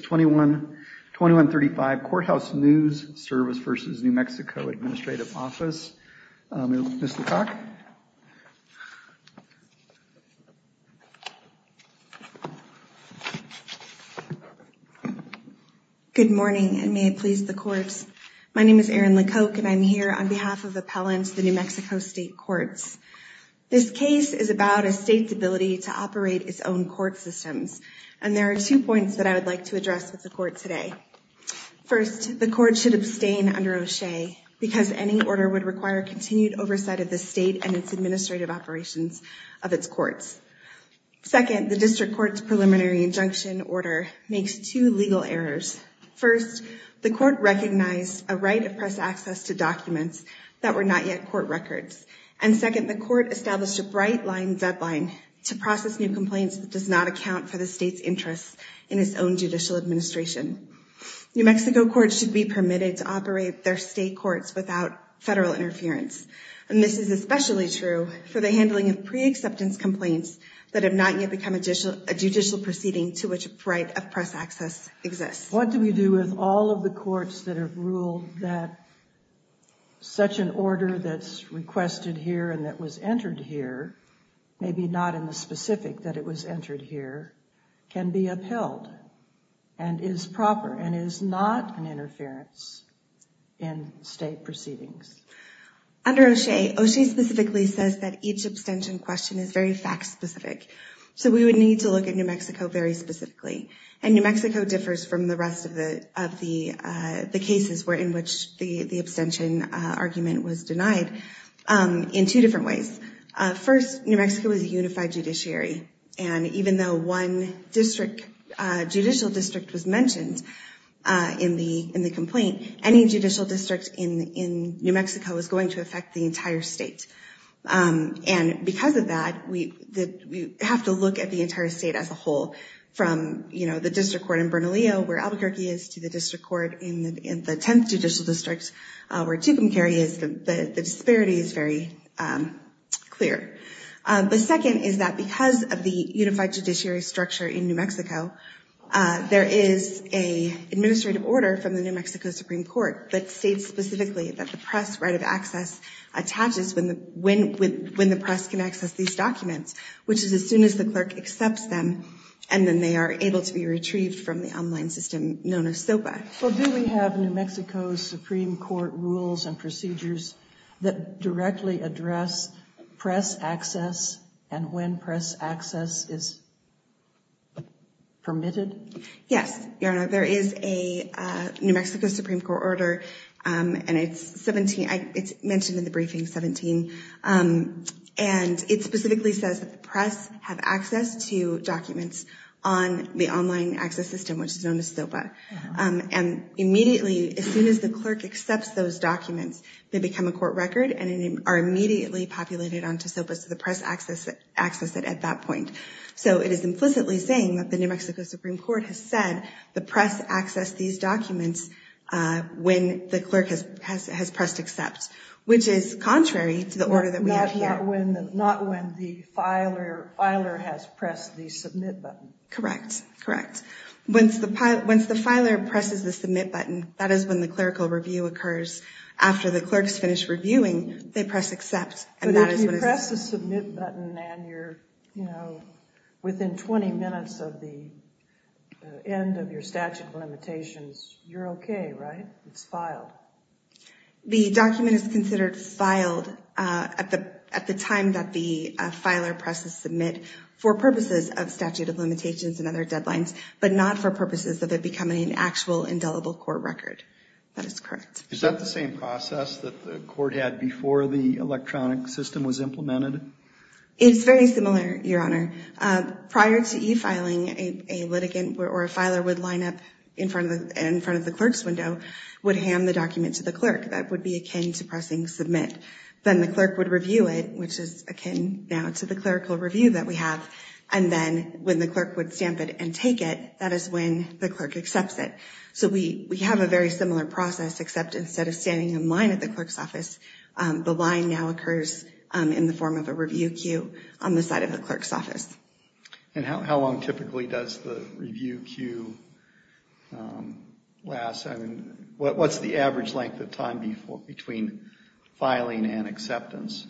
21-35 Courthouse News Service v. New Mexico Administrative Office. Ms. LeCocq. Good morning and may it please the courts. My name is Erin LeCocq and I'm here on behalf of Appellants of the New Mexico State Courts. This case is about a state's ability to operate its own court systems. And there are two points that I would like to address with the court today. First, the court should abstain under O'Shea because any order would require continued oversight of the state and its administrative operations of its courts. Second, the district court's preliminary injunction order makes two legal errors. First, the court recognized a right of press access to documents that were not yet court records. And second, the court established a bright line deadline to process new complaints that does not account for the state's interests in its own judicial administration. New Mexico courts should be permitted to operate their state courts without federal interference. And this is especially true for the handling of pre-acceptance complaints that have not yet become additional a judicial proceeding to which a right of press access exists. What do we do with all of the courts that have ruled that such an order that's entered here, maybe not in the specific that it was entered here, can be upheld and is proper and is not an interference in state proceedings? Under O'Shea, O'Shea specifically says that each abstention question is very fact specific. So we would need to look at New Mexico very specifically. And New Mexico differs from the rest of the cases where in which the abstention argument was denied in two different ways. First, New Mexico is a unified judiciary. And even though one district, judicial district was mentioned in the complaint, any judicial district in New Mexico is going to affect the entire state. And because of that, we have to look at the entire state as a whole from, you know, the district court in Bernalillo where Albuquerque is to the district court in the 10th judicial district where Tucumcari is. The disparity is very clear. The second is that because of the unified judiciary structure in New Mexico, there is an administrative order from the New Mexico Supreme Court that states specifically that the press right of access attaches when the press can access these documents, which is as soon as the clerk accepts them and then they are able to be retrieved from the online system known as SOPA. Well, do we have New Mexico's Supreme Court rules and procedures that directly address press access and when press access is permitted? Yes, Your Honor. There is a New Mexico Supreme Court order and it's 17, it's mentioned in the briefing, 17. And it specifically says that access to documents on the online access system, which is known as SOPA. And immediately, as soon as the clerk accepts those documents, they become a court record and are immediately populated onto SOPA. So the press access it at that point. So it is implicitly saying that the New Mexico Supreme Court has said the press access these documents when the clerk has pressed accept, which is contrary to the order that we have here. Not when the filer has pressed the submit button. Correct. Correct. Once the filer presses the submit button, that is when the clerical review occurs. After the clerks finish reviewing, they press accept. But if you press the submit button and you're, you know, within 20 minutes of the end of your statute of limitations, you're okay, right? It's filed. The document is considered filed at the time that the filer presses submit for purposes of statute of limitations and other deadlines, but not for purposes of it becoming an actual indelible court record. That is correct. Is that the same process that the court had before the electronic system was implemented? It's very similar, Your Honor. Prior to e-filing, a litigant or a filer would line up in front of the clerk's window, would hand the document to the clerk that would be akin to pressing submit. Then the clerk would review it, which is akin now to the clerical review that we have. And then when the clerk would stamp it and take it, that is when the clerk accepts it. So we have a very similar process, except instead of standing in line at the clerk's office, the line now occurs in the form of a review queue on the side of the clerk's office. And how long typically does the review queue last? I mean, what's the average length of time between filing and acceptance?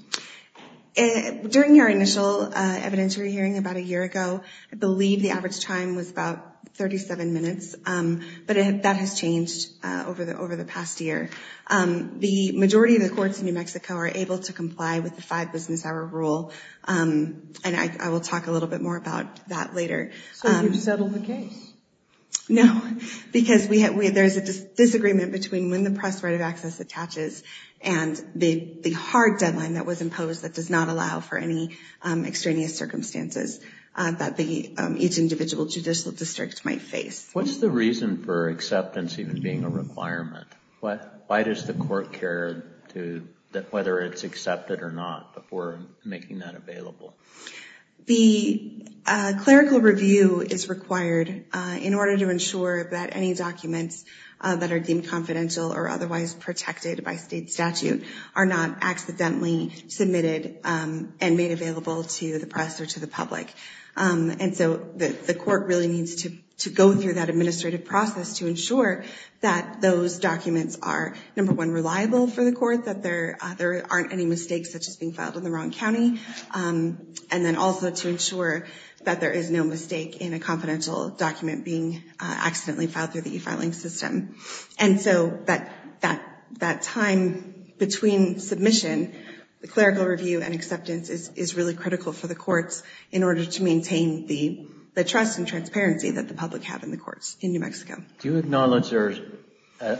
During your initial evidentiary hearing about a year ago, I believe the average time was about 37 minutes, but that has changed over the past year. The majority of the courts in New Mexico are able to comply with the five business hour rule. And I will talk a little bit more about that later. So you've settled the case? No, because there's a disagreement between when the press right of access attaches and the hard deadline that was imposed that does not allow for any extraneous circumstances that each individual judicial district might face. What's the reason for acceptance even being a requirement? Why does the court care whether it's accepted or not before making that available? The clerical review is required in order to ensure that any documents that are deemed confidential or otherwise protected by state statute are not accidentally submitted and made available to the press or to the public. And so the court really needs to go through that administrative process to ensure that those documents are, number one, reliable for the court, that there aren't any mistakes such as being filed in the wrong county, and then also to ensure that there is no mistake in a confidential document being accidentally filed through the e-filing system. And so that time between submission, the clerical review and acceptance is really critical for the courts in order to maintain the trust and transparency that the public have in the courts in New Mexico. Do you acknowledge there's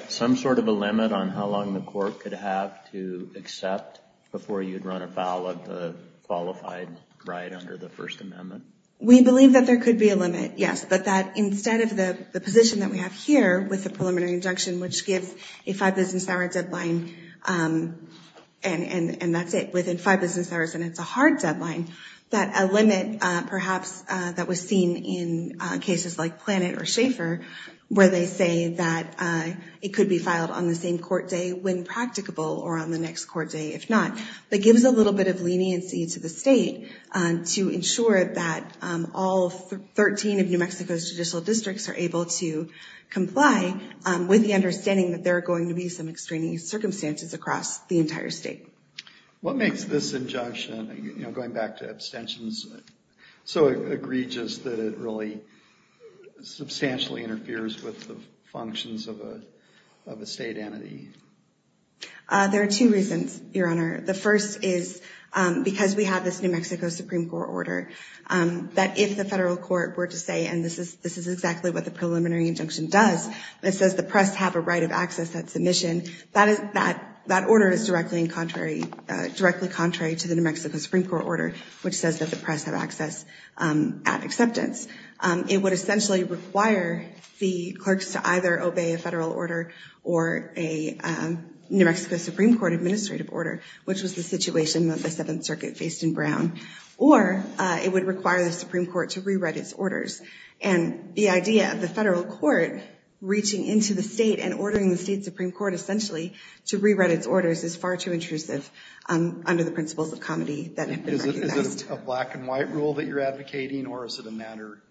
some sort of a limit on how long the court could have to accept before you'd run afoul of the qualified right under the First Amendment? We believe that there could be a limit, yes, but that instead of the position that we have here with the preliminary injunction which gives a five business hours deadline, and that's it, within five business hours and it's a hard deadline, that a limit perhaps that was seen in cases like Planet or Schaeffer where they say that it could be filed on the same court day when practicable or on the next court day if not, but gives a little bit of leniency to the state to ensure that all 13 of New Mexico's judicial districts are able to comply with the understanding that there are going to be some extraneous circumstances across the entire state. What makes this injunction, you know, going back to abstentions, so egregious that it really substantially interferes with the functions of a state entity? There are two reasons, Your Honor. The first is because we have this New Mexico Supreme Court order that if the federal court were to say, and this is exactly what the preliminary injunction does, it says the press have a right of access at submission, that order is directly contrary to the New Mexico Supreme Court order which says that the press have access at acceptance. It would essentially require the clerks to either obey a federal order or a New Mexico Supreme Court administrative order, which was the situation that the Seventh Circuit faced in Brown, or it would require the Supreme Court, reaching into the state and ordering the state Supreme Court essentially to rewrite its orders is far too intrusive under the principles of comity that have been recognized. Is it a black and white rule that you're advocating or is it a matter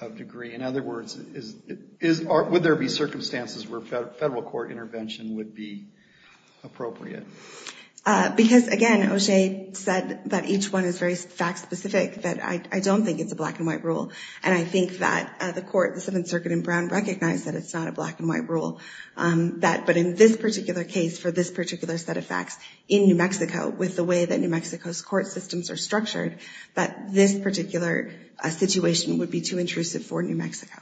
of degree? In other words, would there be circumstances where federal court intervention would be appropriate? Because again, O'Shea said that each one is very fact specific, that I don't think it's a black and white rule, and I think that the court, the Seventh Circuit in Brown recognized that it's not a black and white rule, but in this particular case for this particular set of facts in New Mexico with the way that New Mexico's court systems are structured, that this particular situation would be too intrusive for New Mexico.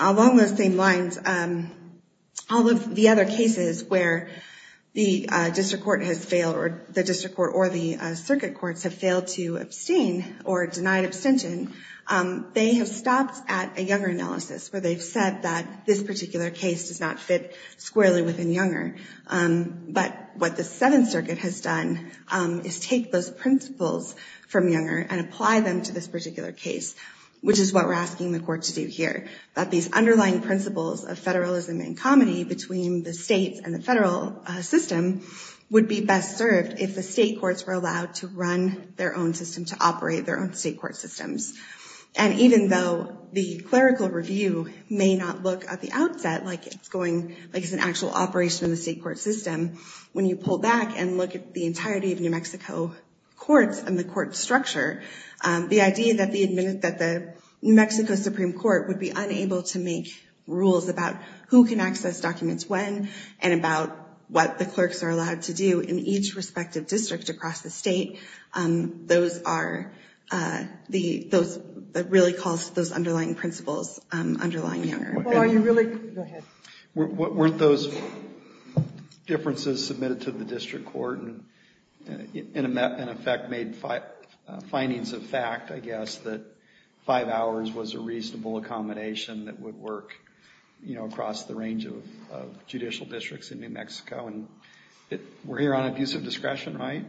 Along those same lines, all of the other cases where the district court has failed or the circuit courts have failed to abstain or denied abstention, they have stopped at a Younger analysis where they've said that this particular case does not fit squarely within Younger, but what the Seventh Circuit has done is take those principles from Younger and apply them to this particular case, which is what we're asking the court to do here, that these underlying principles of federalism and comity between the states and the federal system would be best served if the state courts were allowed to run their own system, to operate their own state court systems. And even though the clerical review may not look at the outset like it's going, like it's an actual operation in the state court system, when you pull back and look at the entirety of New Mexico courts and the court structure, the idea that the New Mexico Supreme Court would be unable to make rules about who can access documents when and about what the clerks are allowed to do in each respective district across the state, those are the, those, that really calls those underlying principles underlying Younger. Well, are you really, go ahead. Weren't those differences submitted to the district court and in effect made findings of fact, I guess, that five hours was a reasonable accommodation that would work, you know, across the range of judicial districts in New Mexico and we're here on abusive discretion, right?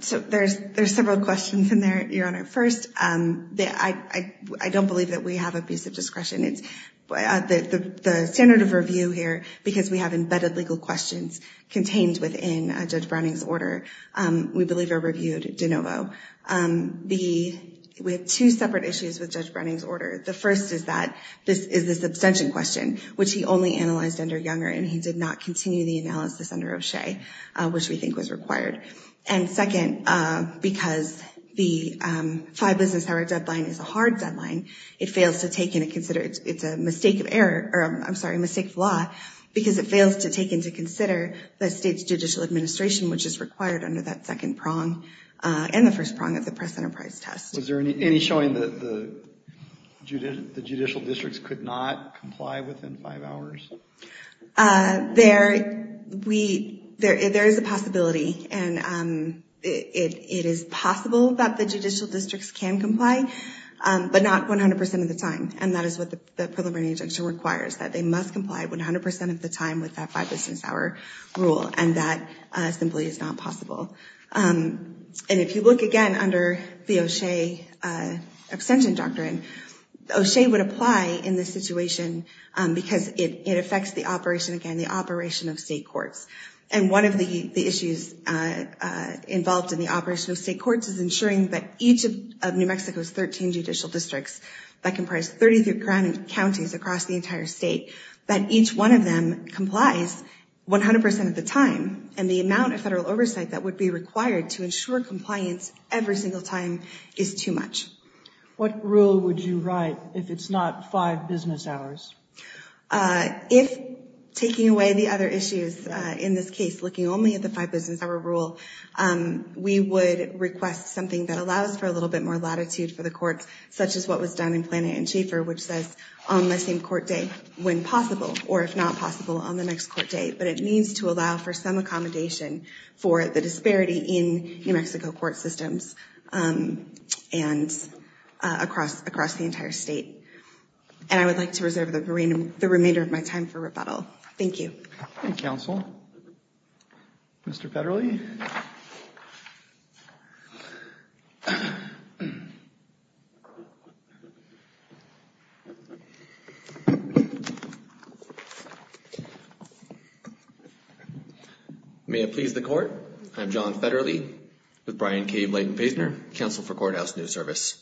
So there's, there's several questions in there, Your Honor. First, I don't believe that we have abusive discretion. It's, the standard of review here, because we have embedded legal questions contained within Judge Browning's order, we believe are reviewed de novo. The, we have two separate issues with Judge Browning's order. The first is that this is this abstention question, which he only analyzed under Younger and he did not continue the analysis under O'Shea, which we think was required. And second, because the five business hour deadline is a hard deadline, it fails to take into consider, it's a mistake of error, or I'm sorry, mistake of law, because it fails to take into consider the state's judicial administration, which is required under that second prong and the first prong of the press enterprise test. Was there any showing that the judicial, the There, we, there, there is a possibility and it, it is possible that the judicial districts can comply, but not 100% of the time. And that is what the preliminary injunction requires, that they must comply 100% of the time with that five business hour rule. And that simply is not possible. And if you look again under the O'Shea abstention doctrine, O'Shea would apply in this It affects the operation, again, the operation of state courts. And one of the issues involved in the operation of state courts is ensuring that each of New Mexico's 13 judicial districts that comprise 33 counties across the entire state, that each one of them complies 100% of the time. And the amount of federal oversight that would be required to ensure compliance every single time is too much. What rule would you write if it's not five business hours? If taking away the other issues in this case, looking only at the five business hour rule, we would request something that allows for a little bit more latitude for the courts, such as what was done in Plano and Schaefer, which says on the same court date when possible, or if not possible on the next court date. But it needs to allow for some accommodation for the disparity in New Mexico court systems and across, across the entire state. And I would like to reserve the remainder of my time for rebuttal. Thank you. Thank you, counsel. Mr. Federle. May it please the court. I'm John Federle with Brian K. Blayton-Paysner, counsel for Courthouse News Service.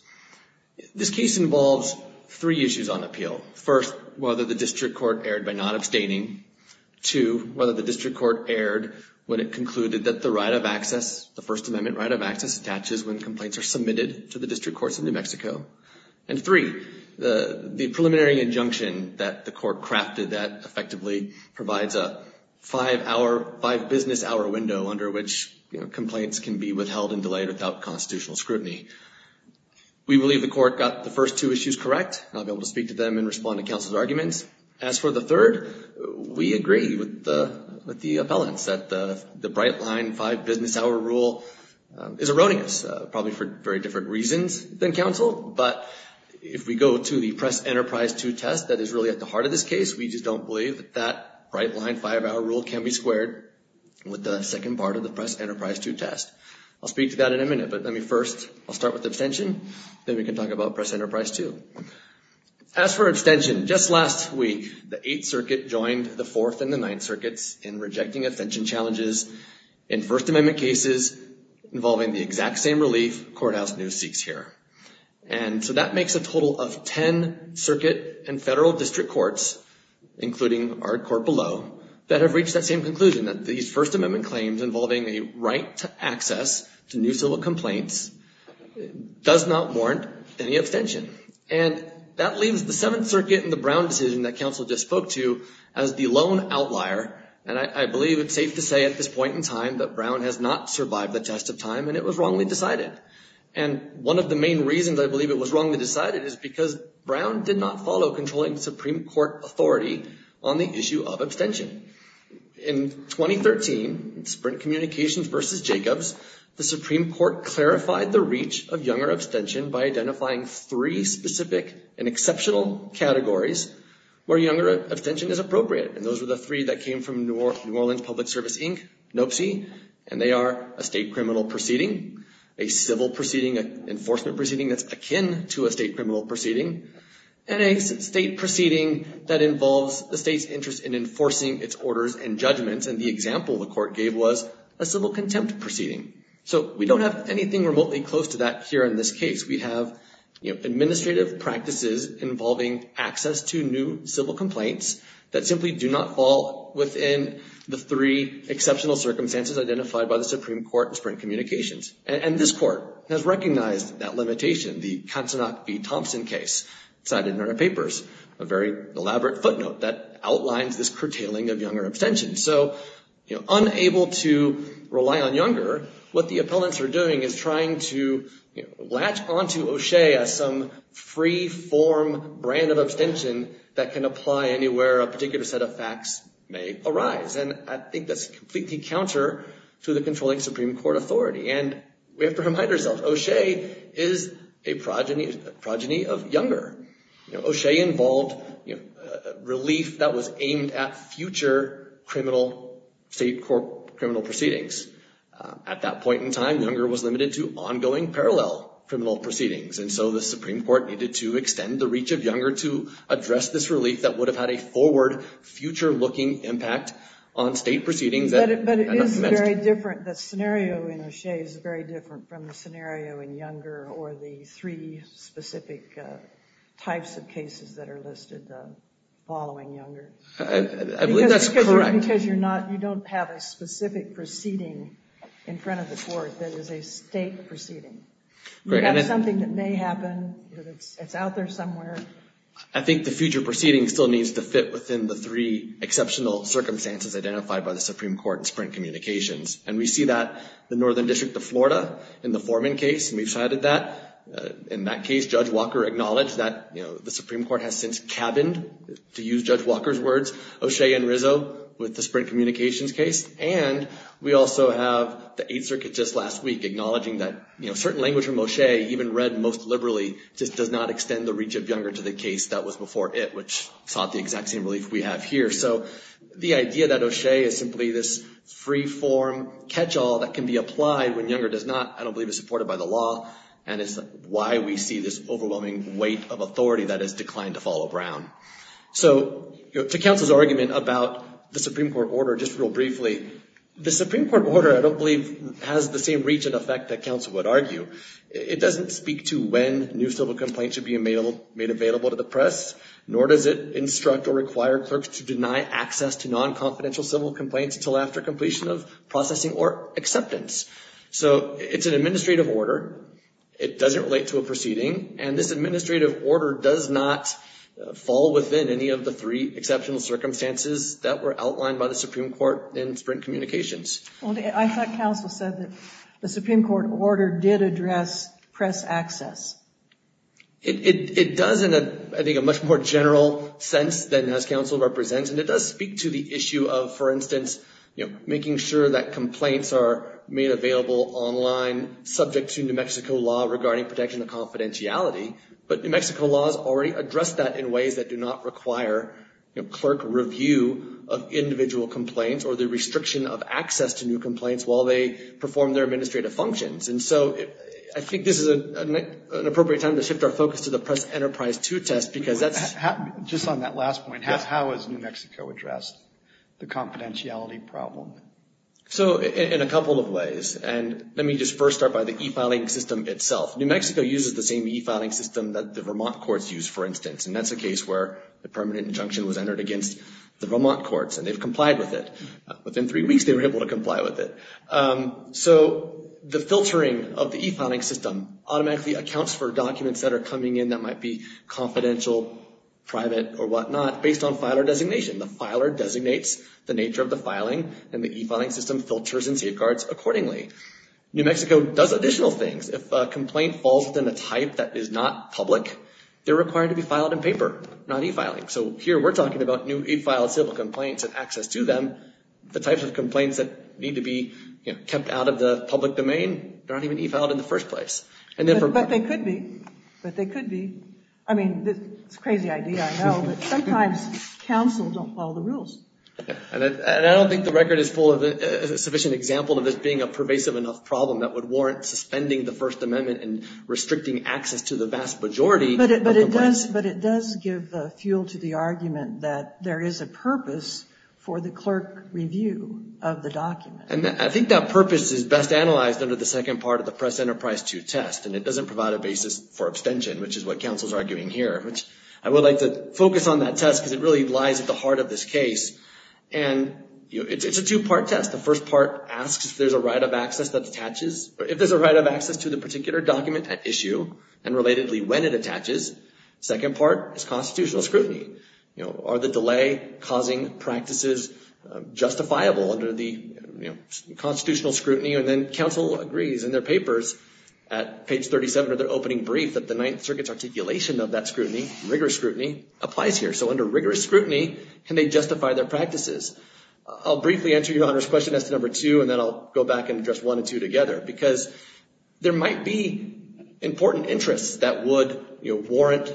This case involves three issues on appeal. First, whether the district court erred by not abstaining. Two, whether the district court erred when it concluded that the right of access, the First Amendment right of access attaches when complaints are submitted to the district courts in New Mexico. And three, the preliminary injunction that the court crafted that effectively provides a five hour, five business hour window under which complaints can be withheld and delayed without constitutional scrutiny. We believe the court got the first two issues correct. I'll be able to speak to them and respond to counsel's arguments. As for the third, we agree with the, with the appellants that the, the bright line five business hour rule is erroneous, probably for very different reasons than counsel. But if we go to the Press-Enterprise II test that is really at the heart of this case, we just don't believe that that bright line five hour rule can be squared with the second part of the Press-Enterprise II test. I'll speak to that in a minute, but let me first, I'll start with abstention. Then we can talk about Press-Enterprise II. As for abstention, just last week, the Eighth Circuit joined the Fourth and the Ninth Circuits in rejecting abstention challenges in First Amendment cases involving the exact same relief courthouse news seeks here. And so that makes a total of 10 circuit and federal district courts, including our court below, that have reached that same conclusion that these First Amendment claims involving a right to access to new civil complaints does not warrant any abstention. And that leaves the Seventh Circuit and the Brown decision that counsel just spoke to as the lone outlier. And I believe it's safe to say at this point in time that Brown has not survived the test of time and it was wrongly decided. And one of the main reasons I believe it was wrongly decided is because Brown did not follow controlling Supreme Court authority on the issue of abstention. In 2013, Sprint Communications v. Jacobs, the Supreme Court clarified the reach of younger abstention by identifying three specific and exceptional categories where younger abstention is appropriate. And those were the three that came from New Orleans Public Service, Inc., NOPSI, and they are a state criminal proceeding, a civil proceeding, an enforcement proceeding that's akin to a state criminal proceeding, and a state proceeding that involves the state's interest in enforcing its orders and judgments. And the example the court gave was a civil contempt proceeding. So we don't have anything remotely close to that here in this case. We have, you know, administrative practices involving access to new civil complaints that simply do not fall within the three exceptional circumstances identified by the Supreme Court in Sprint Communications. And this court has recognized that limitation, the Katzenhoff v. Thompson case cited in their papers, a very elaborate footnote that outlines this curtailing of younger abstention. So, you know, unable to rely on younger, what the appellants are doing is trying to latch onto O'Shea as some free-form brand of abstention that can apply anywhere a particular set of facts may arise. And I think that's completely counter to the controlling Supreme Court authority. And we have to remind ourselves, O'Shea is a progeny, a progeny of younger. You know, O'Shea involved, you know, relief that was aimed at future criminal state court criminal proceedings. At that point in time, younger was limited to ongoing parallel criminal proceedings. And so the Supreme Court needed to extend the reach of younger to address this relief that would have had a forward, future-looking impact on state proceedings. But it is very different, the scenario in O'Shea is very different from the scenario in younger or the three specific types of cases that are listed following younger. I believe that's correct. Because you're not, you don't have a specific proceeding in front of the court that is a state proceeding. You've got something that may happen. It's out there somewhere. I think the future proceeding still needs to fit within the three exceptional circumstances identified by the Supreme Court in Sprint Communications. And we see that the Northern District of Florida in the Foreman case, we've cited that. In that case, Judge Walker acknowledged that, you know, the Supreme Court has since cabined, to use Judge Walker's words, O'Shea and Rizzo with the Sprint Communications case. And we also have the Eighth Circuit just last week acknowledging that, you know, certain language from O'Shea, even read most liberally, just does not extend the reach of younger to the case that was before it, which sought the exact same relief we have here. So the idea that O'Shea is simply this free-form catch-all that can be applied when younger does not, I don't believe is supported by the law. And it's why we see this overwhelming weight of authority that has declined to follow Brown. So to counsel's argument about the Supreme Court order, just real briefly, the Supreme Court order, I don't believe, has the same reach and effect that counsel would argue. It doesn't speak to when new civil complaints should be made available to the press, nor does it instruct or require clerks to deny access to non-confidential civil complaints until after completion of processing or acceptance. So it's an administrative order. It doesn't relate to a proceeding. And this administrative order does not fall within any of the three exceptional circumstances that were outlined by the Supreme Court in Sprint Communications. Well, I thought counsel said that the Supreme Court order did address press access. It does in, I think, a much more general sense than as counsel represents. And it does speak to the issue of, for instance, you know, making sure that complaints are made available online subject to New Mexico law regarding protection of already addressed that in ways that do not require, you know, clerk review of individual complaints or the restriction of access to new complaints while they perform their administrative functions. And so I think this is an appropriate time to shift our focus to the Press Enterprise 2 test because that's... Just on that last point, how has New Mexico addressed the confidentiality problem? So in a couple of ways, and let me just first start by the e-filing system itself. New Mexico uses the same e-filing system that the Vermont courts use, for instance. And that's a case where the permanent injunction was entered against the Vermont courts and they've complied with it. Within three weeks, they were able to comply with it. So the filtering of the e-filing system automatically accounts for documents that are coming in that might be confidential, private, or whatnot based on filer designation. The filer designates the nature of the filing and the e-filing system filters and safeguards accordingly. New Mexico does additional things. If a complaint falls within a type that is not public, they're required to be filed in paper, not e-filing. So here we're talking about new e-filed civil complaints and access to them. The types of complaints that need to be, you know, kept out of the public domain, they're not even e-filed in the first place. But they could be. But they could be. I mean, it's a crazy idea, I know, but sometimes counsel don't follow the rules. And I don't think the record is full of a sufficient example of this being a pervasive enough problem that would warrant suspending the First Amendment and restricting access to the vast majority. But it does give fuel to the argument that there is a purpose for the clerk review of the document. And I think that purpose is best analyzed under the second part of the Press Enterprise 2 test, and it doesn't provide a basis for abstention, which is what counsel's arguing here, which I would like to focus on that test because it really lies at the heart of this case. And, you know, it's a two-part test. The first part asks if there's a right of access that particular document at issue and relatedly when it attaches. Second part is constitutional scrutiny. You know, are the delay-causing practices justifiable under the, you know, constitutional scrutiny? And then counsel agrees in their papers at page 37 of their opening brief that the Ninth Circuit's articulation of that scrutiny, rigorous scrutiny, applies here. So under rigorous scrutiny, can they justify their practices? I'll briefly answer Your Honor's question as to number two, and then I'll go back and address one and two together because there might be important interests that would, you know, warrant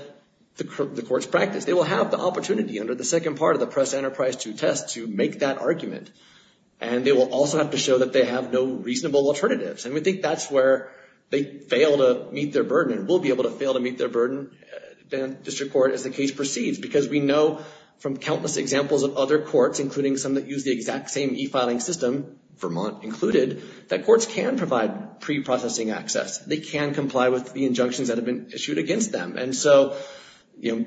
the court's practice. They will have the opportunity under the second part of the Press Enterprise 2 test to make that argument, and they will also have to show that they have no reasonable alternatives. And we think that's where they fail to meet their burden and will be able to fail to meet their burden in district court as the case proceeds because we know from countless examples of other courts, including some that use the exact same e-filing system, Vermont included, that courts can provide pre-processing access. They can comply with the injunctions that have been issued against them. And so, you know,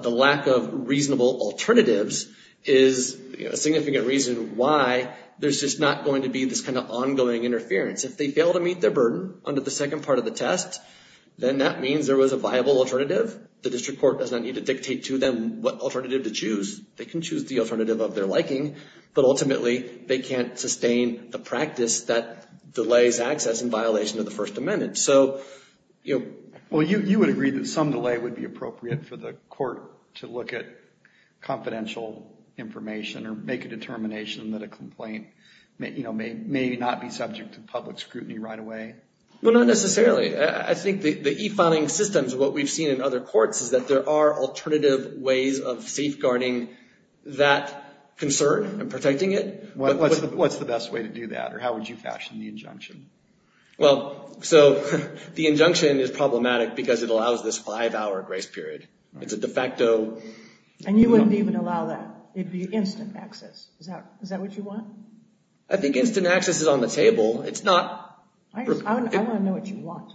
the lack of reasonable alternatives is a significant reason why there's just not going to be this kind of ongoing interference. If they fail to meet their burden under the second part of the test, then that means there was a viable alternative. The district court does not need to dictate to them what alternative to choose. They can choose the alternative of their liking, but ultimately they can't sustain the practice that delays access in violation of the First Amendment. So, you know... Well, you would agree that some delay would be appropriate for the court to look at confidential information or make a determination that a complaint, you know, may not be subject to public scrutiny right away? Well, not necessarily. I think the e-filing systems, what we've seen in other courts, is that there are alternative ways of safeguarding that concern and protecting it. What's the best way to do that, or how would you fashion the injunction? Well, so the injunction is problematic because it allows this five-hour grace period. It's a de facto... And you wouldn't even allow that. It'd be instant access. Is that what you want? I think instant access is on the table. It's not... I want to know what you want.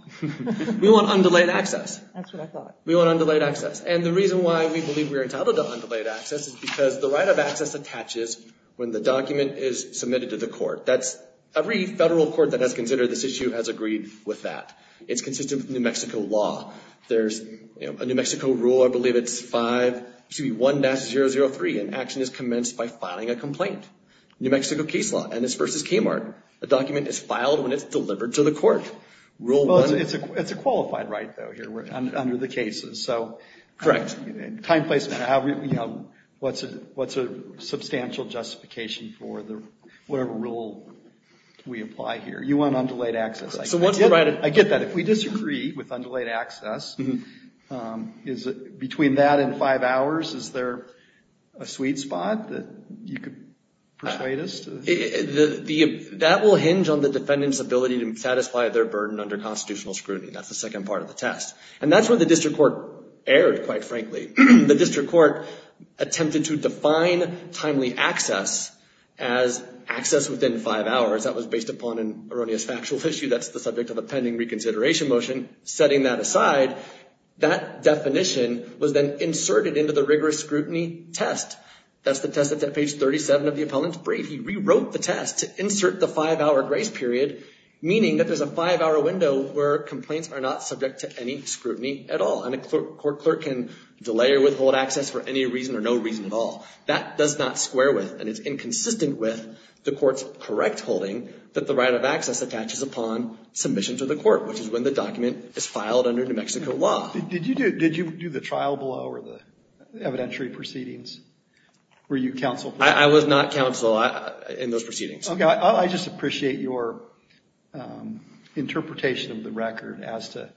We want undelayed access. That's what I thought. We want undelayed access. And the reason why we are entitled to undelayed access is because the right of access attaches when the document is submitted to the court. That's... Every federal court that has considered this issue has agreed with that. It's consistent with New Mexico law. There's, you know, a New Mexico rule, I believe it's 5... Excuse me, 1-003. An action is commenced by filing a complaint. New Mexico case law, Ennis v. Kmart. A document is filed when it's delivered to the court. Rule 1... Well, it's a question of what's a substantial justification for whatever rule we apply here. You want undelayed access. I get that. If we disagree with undelayed access, between that and five hours, is there a sweet spot that you could persuade us to... That will hinge on the defendant's ability to satisfy their burden under constitutional scrutiny. That's the second part of the test. And that's where the district court erred, quite frankly. The district court attempted to define timely access as access within five hours. That was based upon an erroneous factual issue. That's the subject of a pending reconsideration motion. Setting that aside, that definition was then inserted into the rigorous scrutiny test. That's the test that's at page 37 of the appellant's brief. He rewrote the test to insert the five-hour grace period, meaning that there's a five-hour window where complaints are not subject to any scrutiny at all. And a court clerk can delay or withhold access for any reason or no reason at all. That does not square with and is inconsistent with the court's correct holding that the right of access attaches upon submission to the court, which is when the document is filed under New Mexico law. Did you do the trial blow or the evidentiary proceedings? Were you counsel? I was not counsel in those proceedings. I just appreciate your interpretation of the record as to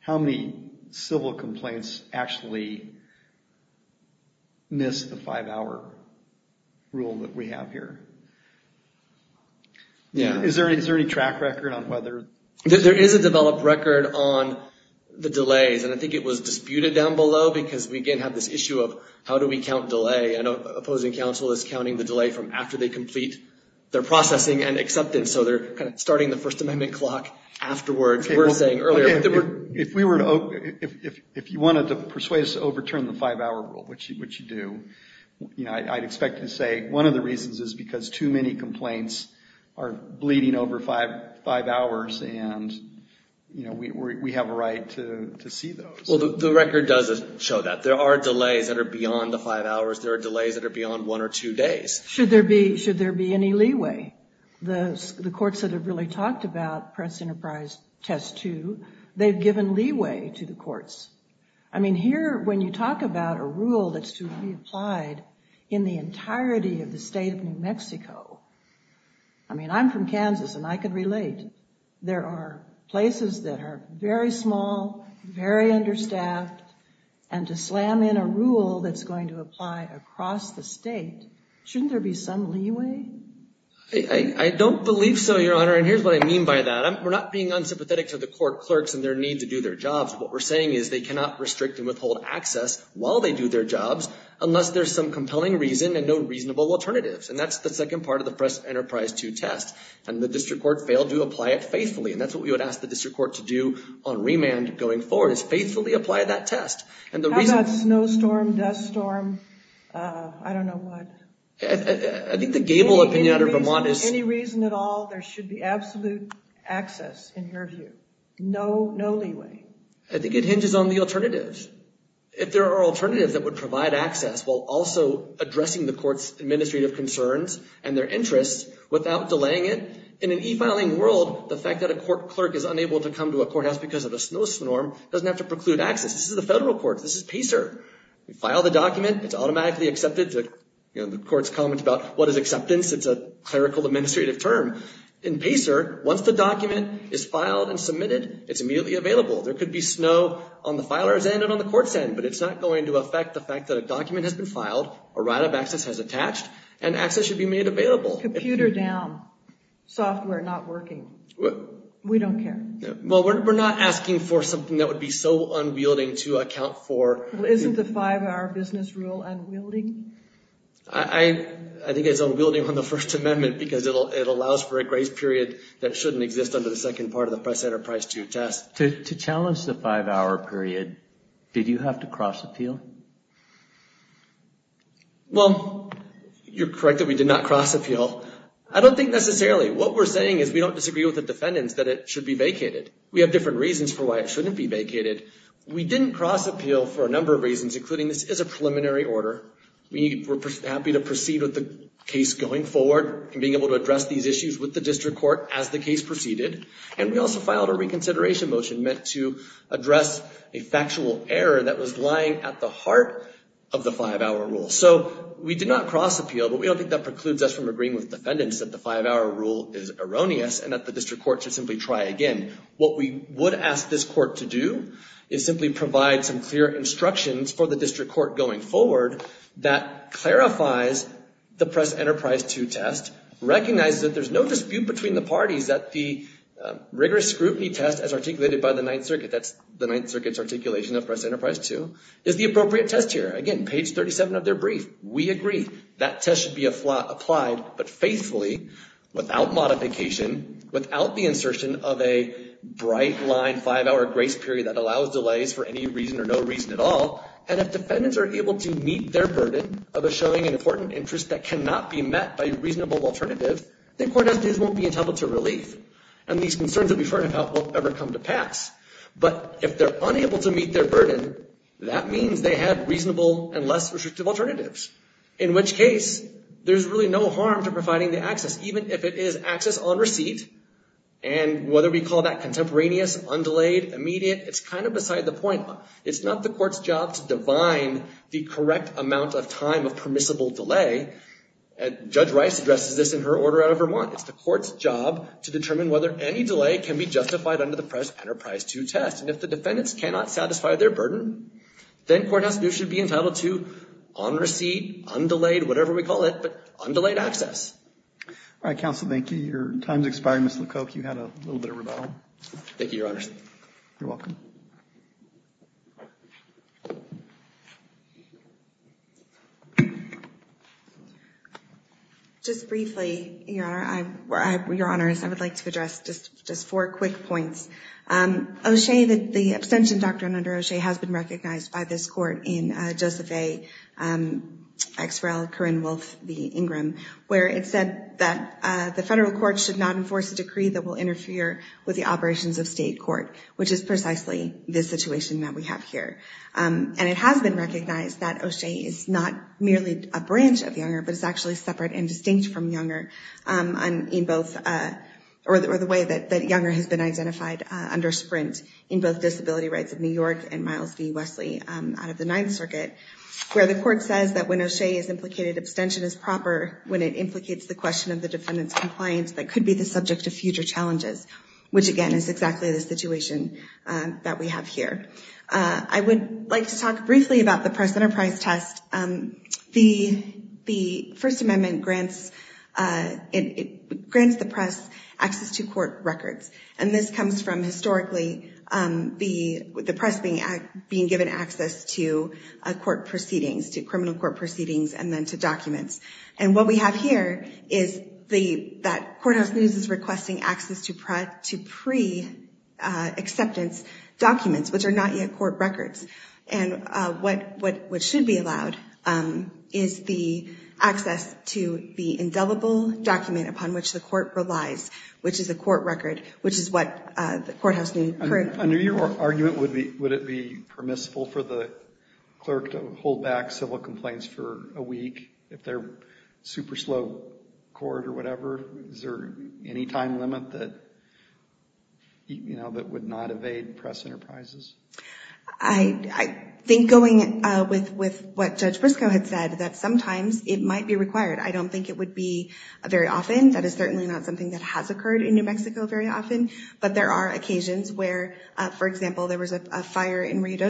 how many civil complaints actually miss the five-hour rule that we have here. Yeah. Is there any track record on whether... There is a developed record on the delays. And I think it was disputed down below because we again have this issue of how do we count delay? I know opposing counsel is counting the delay from after they complete their processing and acceptance. So they're kind of starting the First Amendment clock afterwards. We're saying earlier... If you wanted to persuade us to overturn the five-hour rule, which you do, I'd expect you to say one of the reasons is because too many complaints are bleeding over five hours and we have a right to see those. Well, the record does show that. There are delays that are beyond the five hours. There are delays that are beyond one or two days. Should there be any leeway? The courts that have really talked about Press Enterprise Test 2, they've given leeway to the courts. I mean, here when you talk about a rule that's to be applied in the entirety of the state of New Mexico... I mean, I'm from Kansas and I can relate. There are places that are very small, very understaffed, and to slam in a rule that's going to apply across the state, shouldn't there be some leeway? I don't believe so, Your Honor, and here's what I mean by that. We're not being unsympathetic to the court clerks and their need to do their jobs. What we're saying is they cannot restrict and withhold access while they do their jobs unless there's some compelling reason and no reasonable alternatives. And that's the second part of the Press Enterprise 2 test. And the district court failed to apply it faithfully. And that's what we would ask the district court to do on remand going forward, is faithfully apply that test. How about snowstorm, dust storm, I don't know what? I think the Gable opinion out of Vermont is... Any reason at all, there should be absolute access in your view. No leeway. I think it hinges on the alternatives. If there are alternatives that would provide access while also addressing the court's administrative concerns and their interests without delaying it, in an e-filing world, the fact that a court clerk is unable to come to a courthouse because of a snowstorm doesn't have to preclude access. This is the federal courts. This is PACER. You file the document, it's automatically accepted. The court's comments about what is acceptance, it's a clerical administrative term. In PACER, once the document is filed and submitted, it's immediately available. There could be snow on the filer's end and on the court's end, but it's not going to affect the fact that a document has been filed, a right of access has attached, and access should be made available. Computer down, software not working. We don't care. Well, we're not asking for something that would be so unwielding to account for... Well, isn't the five-hour business rule unwielding? I think it's unwielding on the First Amendment because it allows for a grace period that shouldn't exist under the second part of the Press-Enterprise II test. To challenge the five-hour period, did you have to cross appeal? Well, you're correct that we did not cross appeal. I don't think necessarily. What we're saying is we don't disagree with the defendants that it should be vacated. We have different reasons for why it shouldn't be vacated. We didn't cross appeal for a number of reasons, including this is a preliminary order. We're happy to proceed with the case going forward and being able to address these issues with the district court as the case proceeded. We also filed a reconsideration motion meant to address a factual error that was lying at the heart of the five-hour rule. We did not cross appeal, but we don't think that precludes us from agreeing with defendants that the five-hour rule is erroneous and that the district court should simply try again. What we would ask this court to do is simply provide some clear instructions for the district court going forward that clarifies the Press-Enterprise II test, recognizes that there's no dispute between the parties that the rigorous scrutiny test as articulated by the Ninth Circuit, that's the Ninth Circuit's articulation of Press-Enterprise II, is the appropriate test here. Again, page 37 of their brief, we agree that test should be applied but faithfully, without modification, without the insertion of a bright line five-hour grace period that allows delays for any reason or no reason at all. And if defendants are able to meet their burden of a showing an important interest that cannot be met by a reasonable alternative, then court entities won't be entitled to relief. And these concerns that we've heard will ever come to pass. But if they're unable to meet their burden, that means they have reasonable and less restrictive alternatives. In which case, there's really no harm to providing the access, even if it is access on receipt. And whether we call that contemporaneous, undelayed, immediate, it's kind of beside the point. It's not the court's job to divine the correct amount of time of permissible delay. Judge Rice addresses this in her order out of Vermont. It's the court's job to determine whether any delay can be justified under the press enterprise to test. And if the defendants cannot satisfy their burden, then courthouse should be entitled to on receipt, undelayed, whatever we call it, but undelayed access. All right, counsel. Thank you. Your time's expired. Ms. LeCoke, you had a little bit of rebuttal. Thank you, Your Honor. You're welcome. Just briefly, Your Honor, I would like to address just four quick points. O'Shea, the abstention doctrine under O'Shea has been recognized by this court in Joseph A. X. Rel. Corrine Wolf v. Ingram, where it said that the federal court should not enforce a decree that will interfere with the operations of state court, which is precisely what we're that we have here. And it has been recognized that O'Shea is not merely a branch of Younger, but it's actually separate and distinct from Younger in both or the way that Younger has been identified under Sprint in both Disability Rights of New York and Miles v. Wesley out of the Ninth Circuit, where the court says that when O'Shea is implicated, abstention is proper when it implicates the question of the defendant's compliance that could be the subject of future challenges, which, again, is exactly the situation that we have here. I would like to talk briefly about the Press-Enterprise Test. The First Amendment grants the press access to court records. And this comes from, historically, the press being given access to court proceedings, to criminal court proceedings, and then to documents. And what we have here is that Courthouse News is requesting access to pre-acceptance documents, which are not yet court records. And what should be allowed is the access to the indelible document upon which the court relies, which is a court record, which is what Courthouse News currently has. Under your argument, would it be permissible for the clerk to hold back civil super slow court or whatever? Is there any time limit that, you know, that would not evade press enterprises? I think going with what Judge Briscoe had said, that sometimes it might be required. I don't think it would be very often. That is certainly not something that has occurred in New Mexico very often. But there are occasions where, for example, there was a fire in Rio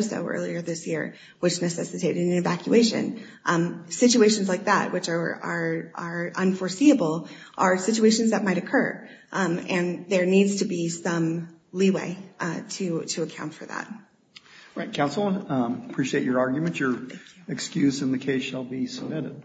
are unforeseeable, are situations that might occur. And there needs to be some leeway to account for that. Right. Counsel, appreciate your argument. Your excuse in the case shall be submitted.